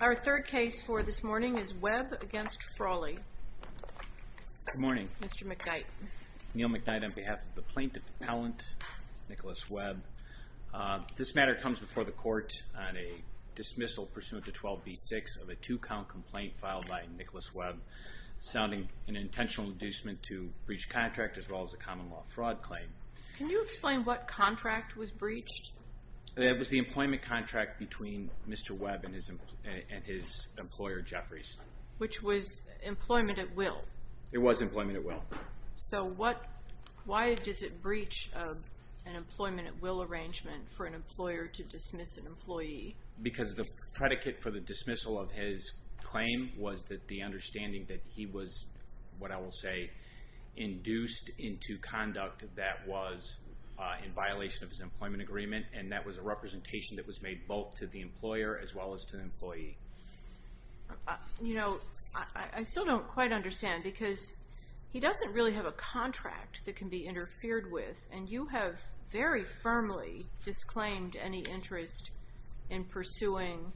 Our third case for this morning is Webb v. Frawley. Good morning. Mr. McKnight. Neil McKnight on behalf of the plaintiff appellant, Nicholas Webb. This matter comes before the court on a dismissal pursuant to 12b-6 of a two-count complaint filed by Nicholas Webb, sounding an intentional inducement to breach contract as well as a common law fraud claim. Can you explain what contract was breached? It was the employment contract between Mr. Webb and his employer, Jeffries. Which was employment at will? It was employment at will. So why does it breach an employment at will arrangement for an employer to dismiss an employee? Because the predicate for the dismissal of his claim was that the understanding that he was, what I will say, induced into conduct that was in violation of his employment agreement and that was a representation that was made both to the employer as well as to the employee. You know, I still don't quite understand because he doesn't really have a contract that can be interfered with and you have very firmly disclaimed any interest in pursuing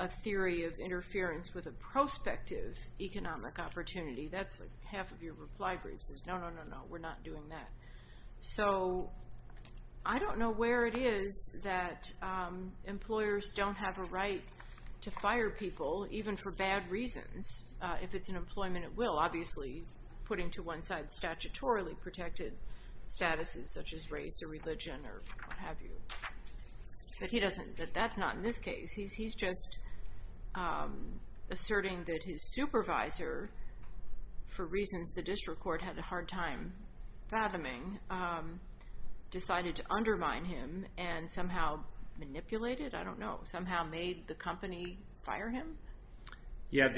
a theory of interference with a prospective economic opportunity. That's like half of your reply briefs is no, no, no, no, we're not doing that. So I don't know where it is that employers don't have a right to fire people even for bad reasons if it's an employment at will. Obviously putting to one side statutorily protected statuses such as race or religion or what have you. But that's not in this case. He's just asserting that his supervisor, for reasons the district court had a hard time fathoming, decided to undermine him and somehow manipulated, I don't know, somehow made the company fire him? Yeah,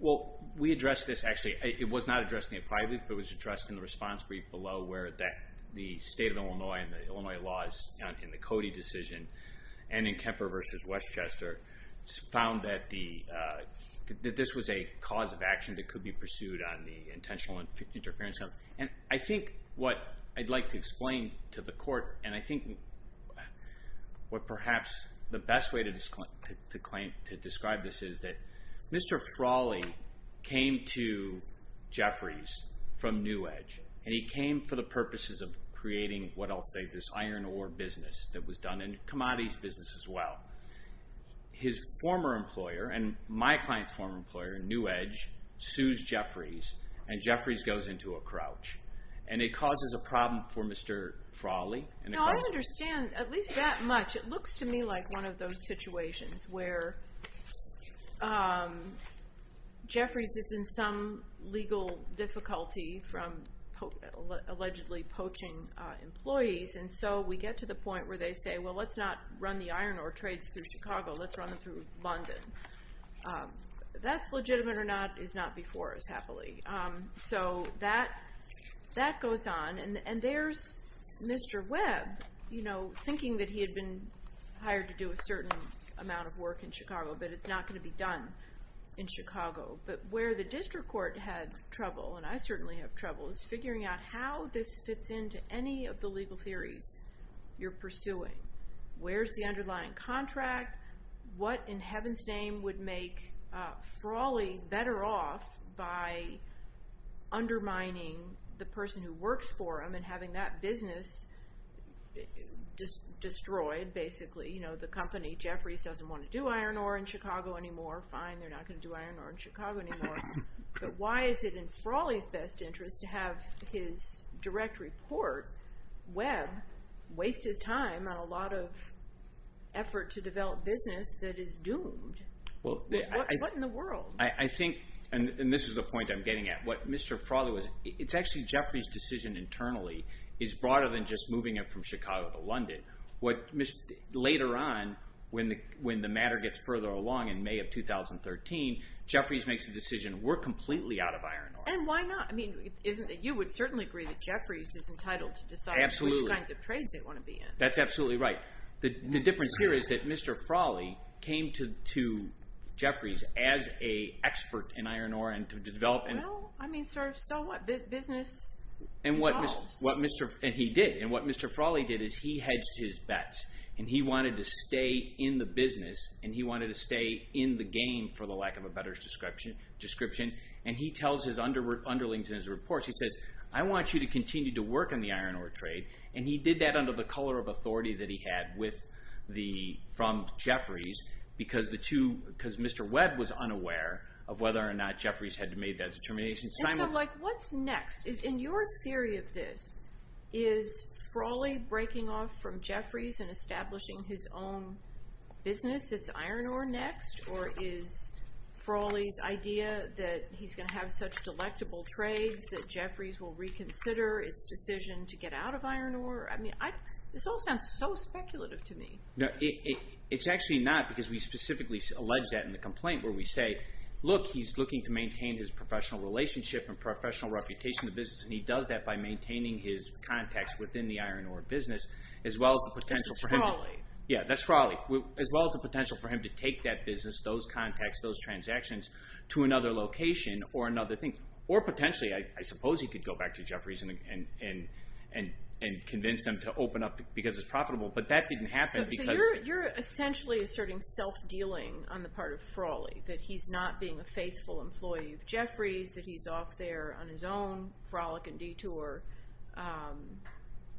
well we addressed this actually. It was not addressed in the apply brief but it was addressed in the response brief below where the state of Illinois and the Illinois laws in the Cody decision and in Kemper versus Westchester found that this was a cause of action that could be pursued on the intentional interference. And I think what I'd like to explain to the court and I think what perhaps the best way to describe this is that Mr. Frawley came to Jeffries from New Edge and he came for the purposes of creating what I'll say this iron ore business that was done in commodities business as well. His former employer and my client's former employer in New Edge sues Jeffries and Jeffries goes into a crouch and it causes a problem for Mr. Frawley. No, I understand at least that much. It looks to me like one of those situations where Jeffries is in some legal difficulty from allegedly poaching employees and so we get to the point where they say, well let's not run the iron ore trades through Chicago, let's run them through London. That's legitimate or not is not before us happily. So that goes on and there's Mr. Webb thinking that he had been hired to do a certain amount of work in Chicago but it's not going to be done in Chicago. But where the district court had trouble and I certainly have trouble is figuring out how this fits into any of the legal theories you're pursuing. Where's the underlying contract? What in heaven's name would make Frawley better off by undermining the person who works for him and having that business destroyed basically? The company Jeffries doesn't want to do iron ore in Chicago anymore. Fine, they're not going to do iron ore in Chicago anymore. But why is it in Frawley's best interest to have his direct report, Webb, waste his time on a lot of effort to develop business that is doomed? What in the world? I think, and this is the point I'm getting at, what Mr. Frawley was, it's actually Jeffries' decision internally is broader than just moving it from Chicago to London. Later on, when the matter gets further along in May of 2013, Jeffries makes the decision we're completely out of iron ore. And why not? You would certainly agree that Jeffries is entitled to decide which kinds of trades they want to be in. That's absolutely right. The difference here is that Mr. Frawley came to Jeffries as an expert in iron ore and to develop. Well, I mean, so what? Business evolves. And he did. And what Mr. Frawley did is he hedged his bets, and he wanted to stay in the business, and he wanted to stay in the game for the lack of a better description. And he tells his underlings in his reports, he says, I want you to continue to work on the iron ore trade. And he did that under the color of authority that he had from Jeffries because Mr. Webb was unaware of whether or not Jeffries had made that determination. And so, like, what's next? In your theory of this, is Frawley breaking off from Jeffries and establishing his own business that's iron ore next? Or is Frawley's idea that he's going to have such delectable trades that Jeffries will reconsider its decision to get out of iron ore? I mean, this all sounds so speculative to me. No, it's actually not because we specifically allege that in the complaint where we say, look, he's looking to maintain his professional relationship and professional reputation in the business, and he does that by maintaining his contacts within the iron ore business as well as the potential for him – This is Frawley. Yeah, that's Frawley. As well as the potential for him to take that business, those contacts, those transactions to another location or another thing. Or potentially, I suppose he could go back to Jeffries and convince them to open up because it's profitable. But that didn't happen because – So you're essentially asserting self-dealing on the part of Frawley, that he's not being a faithful employee of Jeffries, that he's off there on his own, frolic and detour,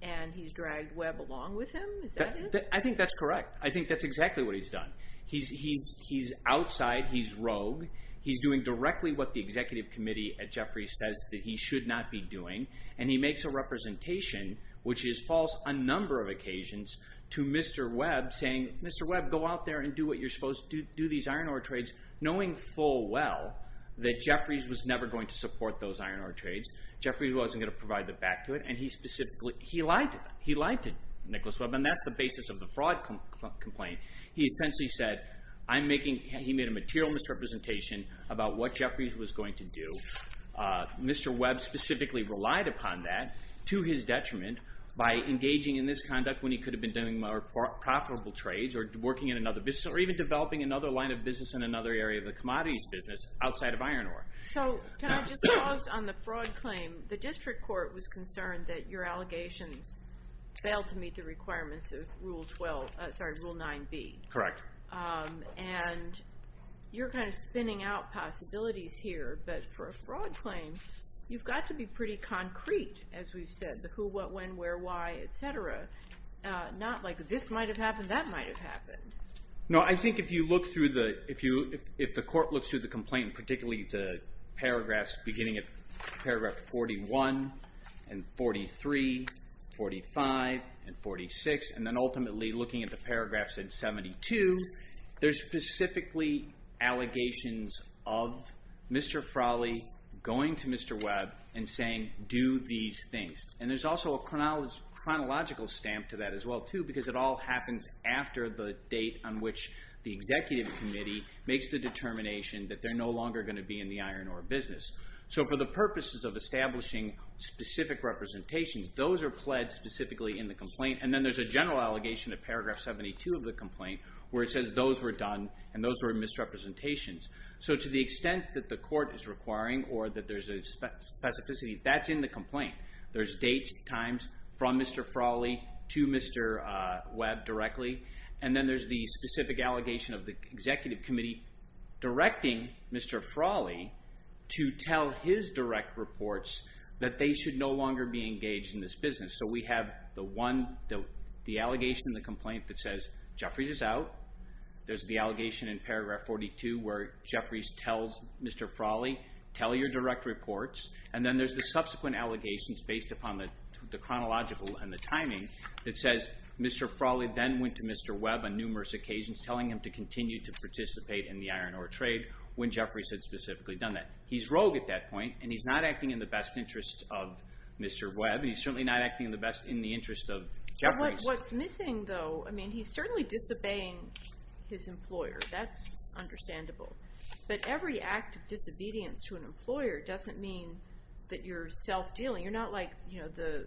and he's dragged Webb along with him? Is that it? I think that's correct. I think that's exactly what he's done. He's outside. He's rogue. He's doing directly what the executive committee at Jeffries says that he should not be doing. And he makes a representation, which is false on a number of occasions, to Mr. Webb saying, Mr. Webb, go out there and do what you're supposed to do, do these iron ore trades, knowing full well that Jeffries was never going to support those iron ore trades. Jeffries wasn't going to provide the back to it, and he specifically – he lied to them. He lied to Nicholas Webb, and that's the basis of the fraud complaint. He essentially said, I'm making – he made a material misrepresentation about what Jeffries was going to do. Mr. Webb specifically relied upon that to his detriment by engaging in this conduct when he could have been doing more profitable trades or working in another business or even developing another line of business in another area of the commodities business outside of iron ore. So can I just pause on the fraud claim? The district court was concerned that your allegations failed to meet the requirements of Rule 9b. Correct. And you're kind of spinning out possibilities here, but for a fraud claim, you've got to be pretty concrete, as we've said, the who, what, when, where, why, et cetera. Not like this might have happened, that might have happened. No, I think if you look through the – if the court looks through the complaint, particularly the paragraphs beginning at paragraph 41 and 43, 45, and 46, and then ultimately looking at the paragraphs at 72, there's specifically allegations of Mr. Frawley going to Mr. Webb and saying, do these things. And there's also a chronological stamp to that as well, too, because it all happens after the date on which the executive committee makes the determination that they're no longer going to be in the iron ore business. So for the purposes of establishing specific representations, those are pled specifically in the complaint. And then there's a general allegation at paragraph 72 of the complaint where it says those were done and those were misrepresentations. So to the extent that the court is requiring or that there's a specificity, that's in the complaint. There's dates, times, from Mr. Frawley to Mr. Webb directly. And then there's the specific allegation of the executive committee directing Mr. Frawley to tell his direct reports that they should no longer be engaged in this business. So we have the one, the allegation in the complaint that says Jeffries is out. There's the allegation in paragraph 42 where Jeffries tells Mr. Frawley, tell your direct reports. And then there's the subsequent allegations based upon the chronological and the timing that says Mr. Frawley then went to Mr. Webb on numerous occasions telling him to continue to participate in the iron ore trade when Jeffries had specifically done that. He's rogue at that point, and he's not acting in the best interest of Mr. Webb. He's certainly not acting in the best, in the interest of Jeffries. What's missing though, I mean he's certainly disobeying his employer. That's understandable. But every act of disobedience to an employer doesn't mean that you're self-dealing. You're not like the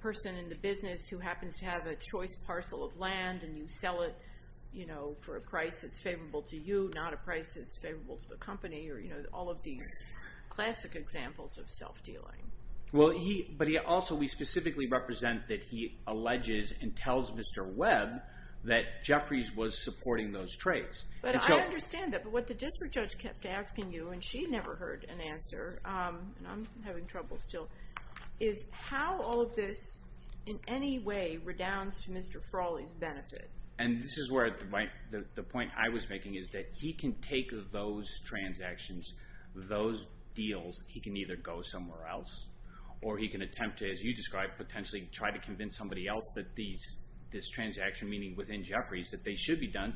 person in the business who happens to have a choice parcel of land and you sell it for a price that's favorable to you, not a price that's favorable to the company, or all of these classic examples of self-dealing. But also we specifically represent that he alleges and tells Mr. Webb that Jeffries was supporting those trades. But I understand that, but what the district judge kept asking you, and she never heard an answer, and I'm having trouble still, is how all of this in any way redounds to Mr. Frawley's benefit. And this is where the point I was making is that he can take those transactions, those deals, he can either go somewhere else or he can attempt to, as you described, potentially try to convince somebody else that this transaction, meaning within Jeffries, that they should be done.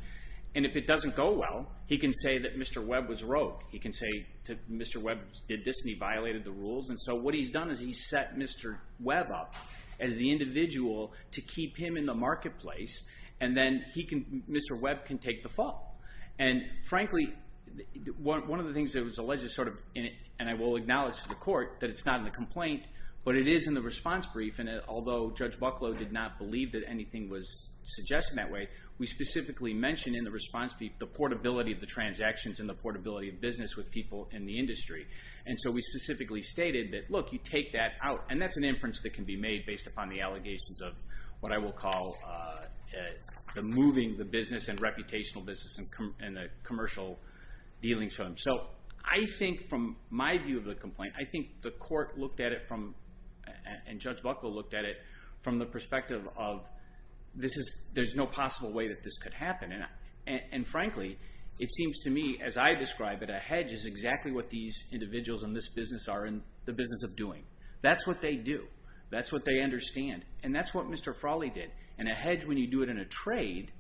And if it doesn't go well, he can say that Mr. Webb was rogue. He can say Mr. Webb did this and he violated the rules. And so what he's done is he's set Mr. Webb up as the individual to keep him in the marketplace, and then Mr. Webb can take the fall. And, frankly, one of the things that was alleged, and I will acknowledge to the court, that it's not in the complaint, but it is in the response brief, and although Judge Bucklow did not believe that anything was suggested that way, we specifically mentioned in the response brief the portability of the transactions and the portability of business with people in the industry. And so we specifically stated that, look, you take that out, and that's an inference that can be made based upon the allegations of what I will call the moving the business and reputational business and the commercial dealings for them. So I think from my view of the complaint, I think the court looked at it from, and Judge Bucklow looked at it from the perspective of there's no possible way that this could happen. And, frankly, it seems to me, as I describe it, a hedge is exactly what these individuals in this business are in the business of doing. That's what they do. That's what they understand. And that's what Mr. Frawley did. And a hedge, when you do it in a trade,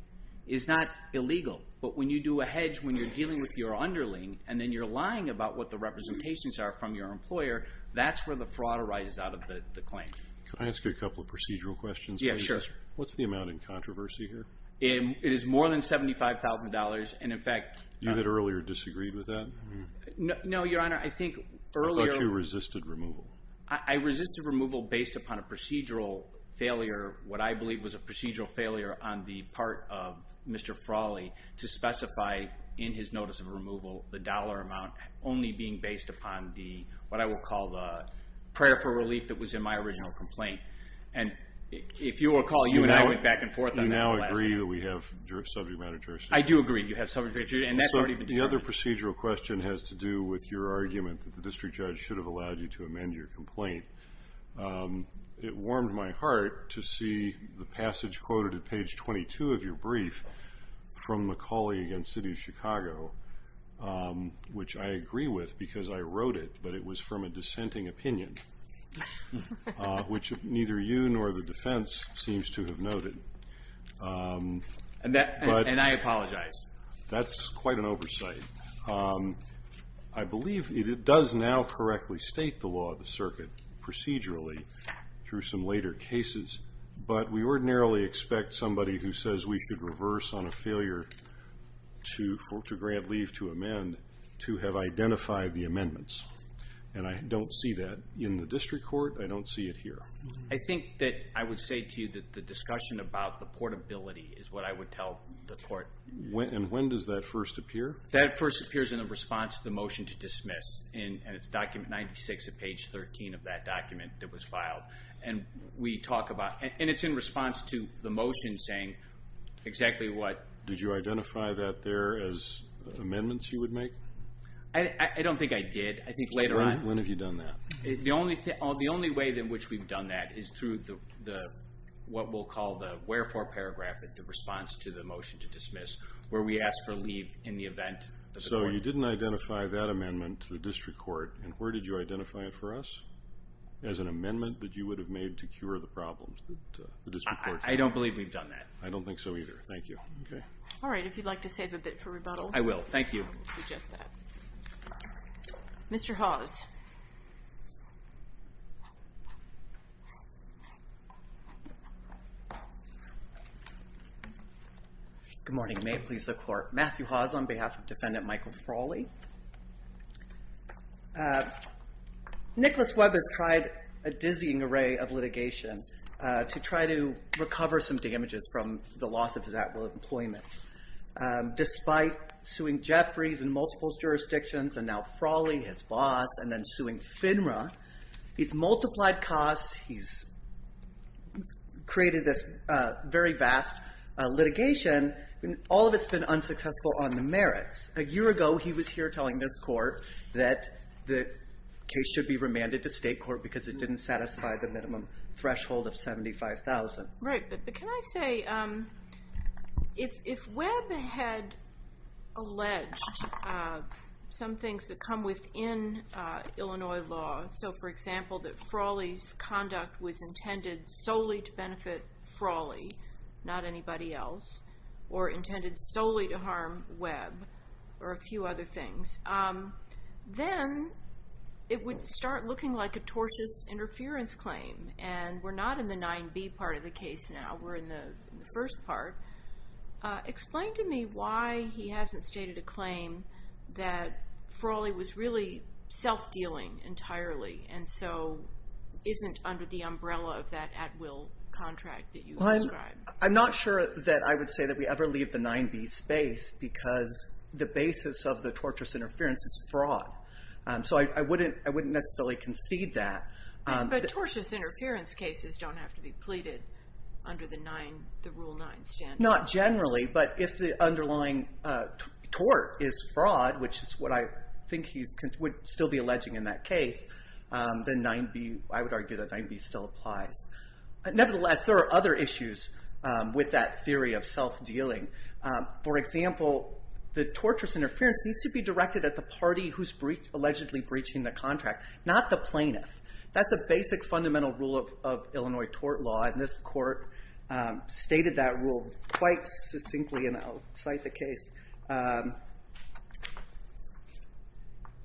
is not illegal. But when you do a hedge when you're dealing with your underling and then you're lying about what the representations are from your employer, that's where the fraud arises out of the claim. Can I ask you a couple of procedural questions, please? Yeah, sure. What's the amount in controversy here? It is more than $75,000, and, in fact— You had earlier disagreed with that? No, Your Honor, I think earlier— I thought you resisted removal. I resisted removal based upon a procedural failure, what I believe was a procedural failure on the part of Mr. Frawley to specify in his notice of removal the dollar amount, only being based upon what I would call the prayer for relief that was in my original complaint. And if you recall, you and I went back and forth on that the last time. You now agree that we have subject matter jurisdiction? I do agree you have subject matter jurisdiction, and that's already been determined. The other procedural question has to do with your argument that the district judge should have allowed you to amend your complaint. It warmed my heart to see the passage quoted at page 22 of your brief from McCauley v. City of Chicago, which I agree with because I wrote it, but it was from a dissenting opinion, which neither you nor the defense seems to have noted. And I apologize. That's quite an oversight. I believe it does now correctly state the law of the circuit procedurally through some later cases, but we ordinarily expect somebody who says we should reverse on a failure to grant leave to amend to have identified the amendments, and I don't see that in the district court. I don't see it here. I think that I would say to you that the discussion about the portability is what I would tell the court. And when does that first appear? That first appears in the response to the motion to dismiss, and it's document 96 at page 13 of that document that was filed. And we talk about it, and it's in response to the motion saying exactly what. Did you identify that there as amendments you would make? I don't think I did. I think later on. When have you done that? The only way in which we've done that is through what we'll call the wherefore paragraph, the response to the motion to dismiss where we ask for leave in the event. So you didn't identify that amendment to the district court, and where did you identify it for us as an amendment that you would have made to cure the problems? I don't believe we've done that. I don't think so either. Thank you. All right. If you'd like to save a bit for rebuttal. I will. Thank you. I will suggest that. Mr. Hawes. Good morning. May it please the Court. Matthew Hawes on behalf of Defendant Michael Frawley. Nicholas Webber has tried a dizzying array of litigation to try to recover some damages from the loss of his actual employment. Despite suing Jeffries in multiple jurisdictions and now Frawley, his boss, and then suing FINRA, he's multiplied costs. He's created this very vast litigation. All of it's been unsuccessful on the merits. A year ago, he was here telling this Court that the case should be remanded to state court because it didn't satisfy the minimum threshold of $75,000. Right. But can I say, if Webber had alleged some things that come within Illinois law, so, for example, that Frawley's conduct was intended solely to benefit Frawley, not anybody else, or intended solely to harm Webb, or a few other things, then it would start looking like a tortious interference claim. And we're not in the 9b part of the case now. We're in the first part. Explain to me why he hasn't stated a claim that Frawley was really self-dealing entirely, and so isn't under the umbrella of that at-will contract that you described. Well, I'm not sure that I would say that we ever leave the 9b space because the basis of the tortious interference is fraud. So I wouldn't necessarily concede that. But tortious interference cases don't have to be pleaded under the Rule 9 standard. Not generally, but if the underlying tort is fraud, which is what I think he would still be alleging in that case, then I would argue that 9b still applies. Nevertheless, there are other issues with that theory of self-dealing. For example, the tortious interference needs to be directed at the party who's allegedly breaching the contract, not the plaintiff. That's a basic fundamental rule of Illinois tort law. And this court stated that rule quite succinctly, and I'll cite the case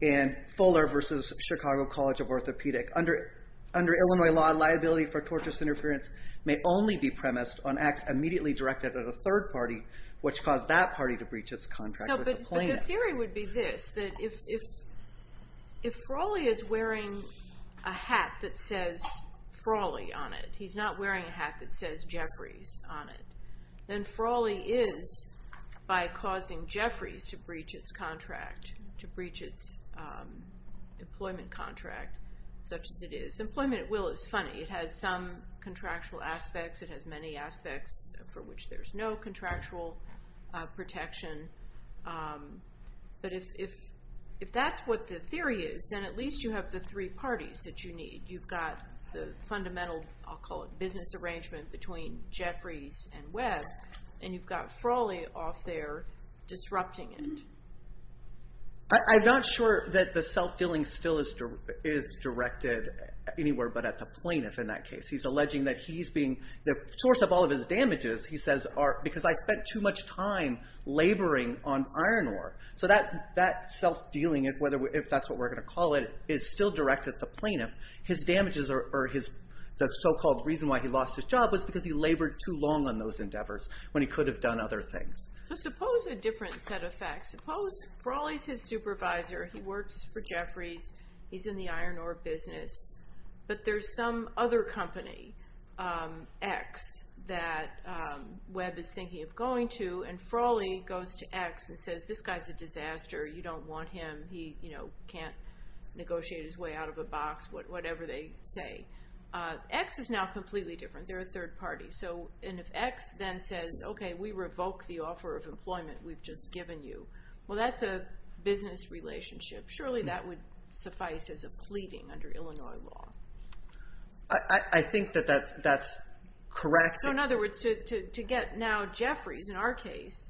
in Fuller v. Chicago College of Orthopedic. Under Illinois law, liability for tortious interference may only be premised on acts immediately directed at a third party, which cause that party to breach its contract with the plaintiff. The theory would be this, that if Frawley is wearing a hat that says Frawley on it, he's not wearing a hat that says Jeffries on it, then Frawley is by causing Jeffries to breach its employment contract, such as it is. Employment at will is funny. It has some contractual aspects. It has many aspects for which there's no contractual protection. But if that's what the theory is, then at least you have the three parties that you need. You've got the fundamental, I'll call it, business arrangement between Jeffries and Webb, and you've got Frawley off there disrupting it. I'm not sure that the self-dealing still is directed anywhere but at the plaintiff in that case. He's alleging that he's being the source of all of his damages, he says, because I spent too much time laboring on iron ore. So that self-dealing, if that's what we're going to call it, is still directed at the plaintiff. His damages or the so-called reason why he lost his job was because he labored too long on those endeavors when he could have done other things. So suppose a different set of facts. Suppose Frawley's his supervisor. He works for Jeffries. He's in the iron ore business. But there's some other company, X, that Webb is thinking of going to, and Frawley goes to X and says, this guy's a disaster. You don't want him. He can't negotiate his way out of a box, whatever they say. X is now completely different. They're a third party. And if X then says, OK, we revoke the offer of employment we've just given you, well, that's a business relationship. Surely that would suffice as a pleading under Illinois law. I think that that's correct. So in other words, to get now Jeffries, in our case,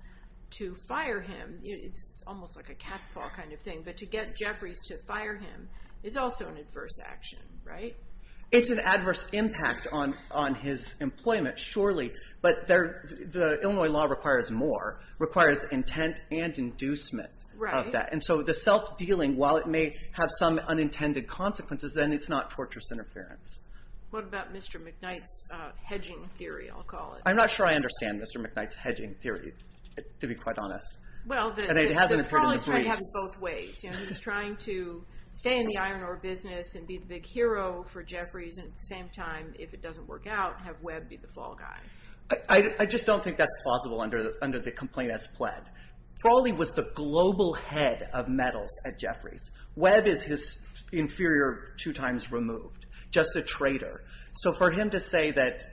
to fire him, it's almost like a cat's paw kind of thing. But to get Jeffries to fire him is also an adverse action, right? It's an adverse impact on his employment, surely. But the Illinois law requires more, requires intent and inducement of that. And so the self-dealing, while it may have some unintended consequences, then it's not torturous interference. What about Mr. McKnight's hedging theory, I'll call it? I'm not sure I understand Mr. McKnight's hedging theory, to be quite honest. And it hasn't appeared in the briefs. He's trying to stay in the iron ore business and be the big hero for Jeffries. And at the same time, if it doesn't work out, have Webb be the flaw guy. I just don't think that's plausible under the complaint as pled. Frawley was the global head of metals at Jeffries. Webb is his inferior two times removed, just a traitor. So for him to say that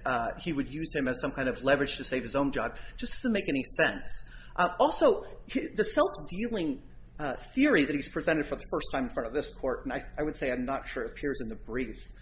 he would use him as some kind of leverage to save his own job just doesn't make any sense. Also, the self-dealing theory that he's presented for the first time in front of this court, and I would say I'm not sure it appears in the briefs,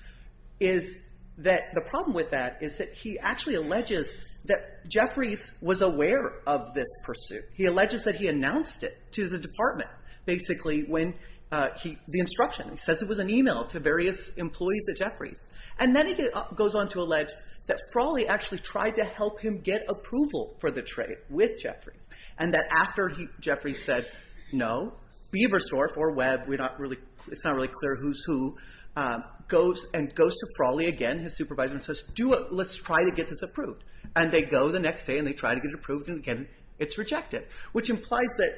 is that the problem with that is that he actually alleges that Jeffries was aware of this pursuit. He alleges that he announced it to the department, basically, when the instruction. He says it was an email to various employees at Jeffries. And then he goes on to allege that Frawley actually tried to help him get approval for the trade with Jeffries. And that after Jeffries said, no, Beversdorf or Webb, it's not really clear who's who, goes to Frawley again, his supervisor, and says, let's try to get this approved. And they go the next day and they try to get it approved, and again, it's rejected. Which implies that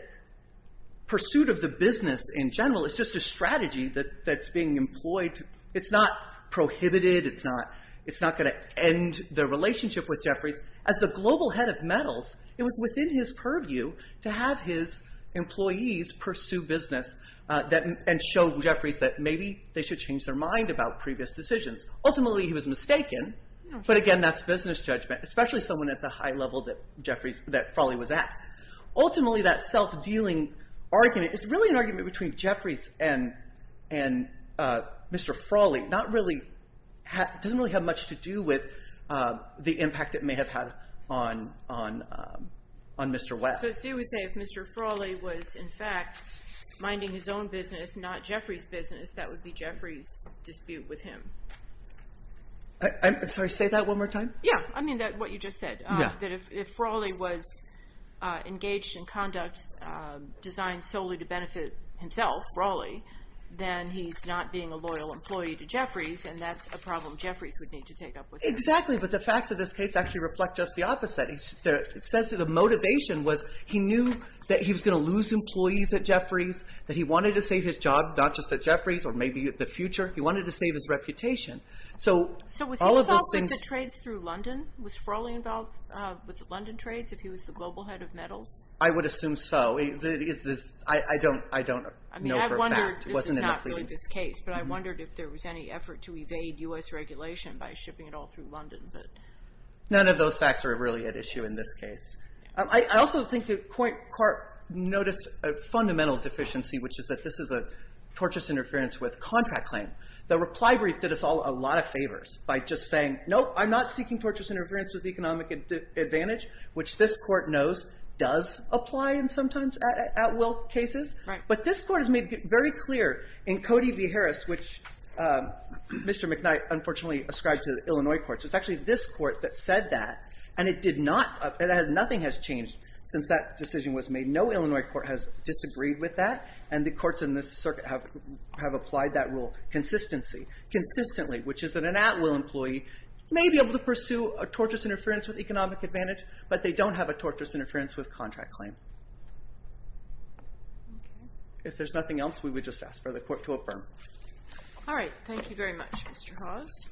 pursuit of the business in general is just a strategy that's being employed. It's not prohibited. It's not going to end the relationship with Jeffries. As the global head of metals, it was within his purview to have his employees pursue business and show Jeffries that maybe they should change their mind about previous decisions. Ultimately, he was mistaken, but again, that's business judgment, especially someone at the high level that Frawley was at. Ultimately, that self-dealing argument is really an argument between Jeffries and Mr. Frawley. It doesn't really have much to do with the impact it may have had on Mr. Webb. So you would say if Mr. Frawley was, in fact, minding his own business, not Jeffries' business, that would be Jeffries' dispute with him. Sorry, say that one more time? Yeah, I mean what you just said. If Frawley was engaged in conduct designed solely to benefit himself, Frawley, then he's not being a loyal employee to Jeffries, and that's a problem Jeffries would need to take up with him. Exactly, but the facts of this case actually reflect just the opposite. It says that the motivation was he knew that he was going to lose employees at Jeffries, that he wanted to save his job, not just at Jeffries, or maybe the future. He wanted to save his reputation. So was he involved with the trades through London? Was Frawley involved with the London trades if he was the global head of metals? I would assume so. I don't know for a fact. I mean, I wondered, this is not really this case, but I wondered if there was any effort to evade U.S. regulation by shipping it all through London. None of those facts are really at issue in this case. I also think Court noticed a fundamental deficiency, which is that this is a tortious interference with contract claim. The reply brief did us a lot of favors by just saying, no, I'm not seeking tortious interference with economic advantage, which this Court knows does apply in sometimes at-will cases. But this Court has made very clear in Cody v. Harris, which Mr. McKnight unfortunately ascribed to the Illinois courts, it's actually this Court that said that, and it did not, nothing has changed since that decision was made. No Illinois court has disagreed with that, and the courts in this circuit have applied that rule consistently, which is that an at-will employee may be able to pursue a tortious interference with economic advantage, but they don't have a tortious interference with contract claim. If there's nothing else, we would just ask for the Court to affirm. All right. Thank you very much, Mr. Hawes.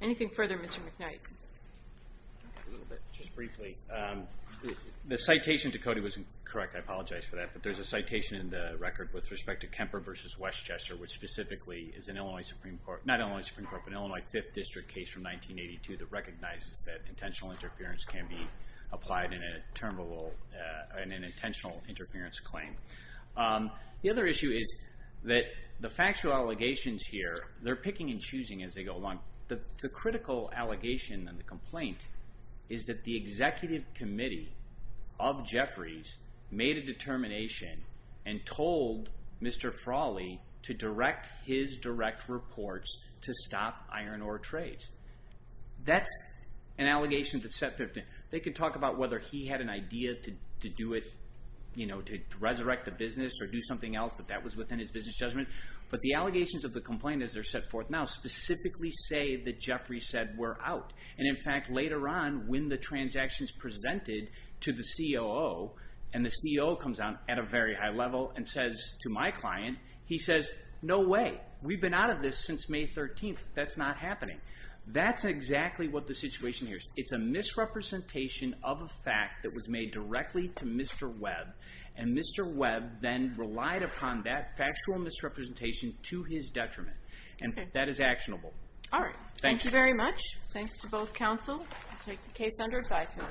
Anything further, Mr. McKnight? Just briefly, the citation to Cody was incorrect. I apologize for that, but there's a citation in the record with respect to Kemper v. Westchester, which specifically is an Illinois Supreme Court, not only a Supreme Court, but an Illinois 5th District case from 1982 that recognizes that intentional interference can be applied in an intentional interference claim. The other issue is that the factual allegations here, they're picking and choosing as they go along. The critical allegation in the complaint is that the executive committee of Jeffries made a determination and told Mr. Frawley to direct his direct reports to stop iron ore trades. That's an allegation that's set forth. They could talk about whether he had an idea to do it, you know, to resurrect the business or do something else, that that was within his business judgment, but the allegations of the complaint, as they're set forth now, specifically say that Jeffries said, we're out. In fact, later on, when the transaction's presented to the COO, and the COO comes out at a very high level and says to my client, he says, no way. We've been out of this since May 13th. That's not happening. That's exactly what the situation here is. It's a misrepresentation of a fact that was made directly to Mr. Webb, and Mr. Webb then relied upon that factual misrepresentation to his detriment, and that is actionable. All right. Thank you very much. Thanks to both counsel. We'll take the case under advisement.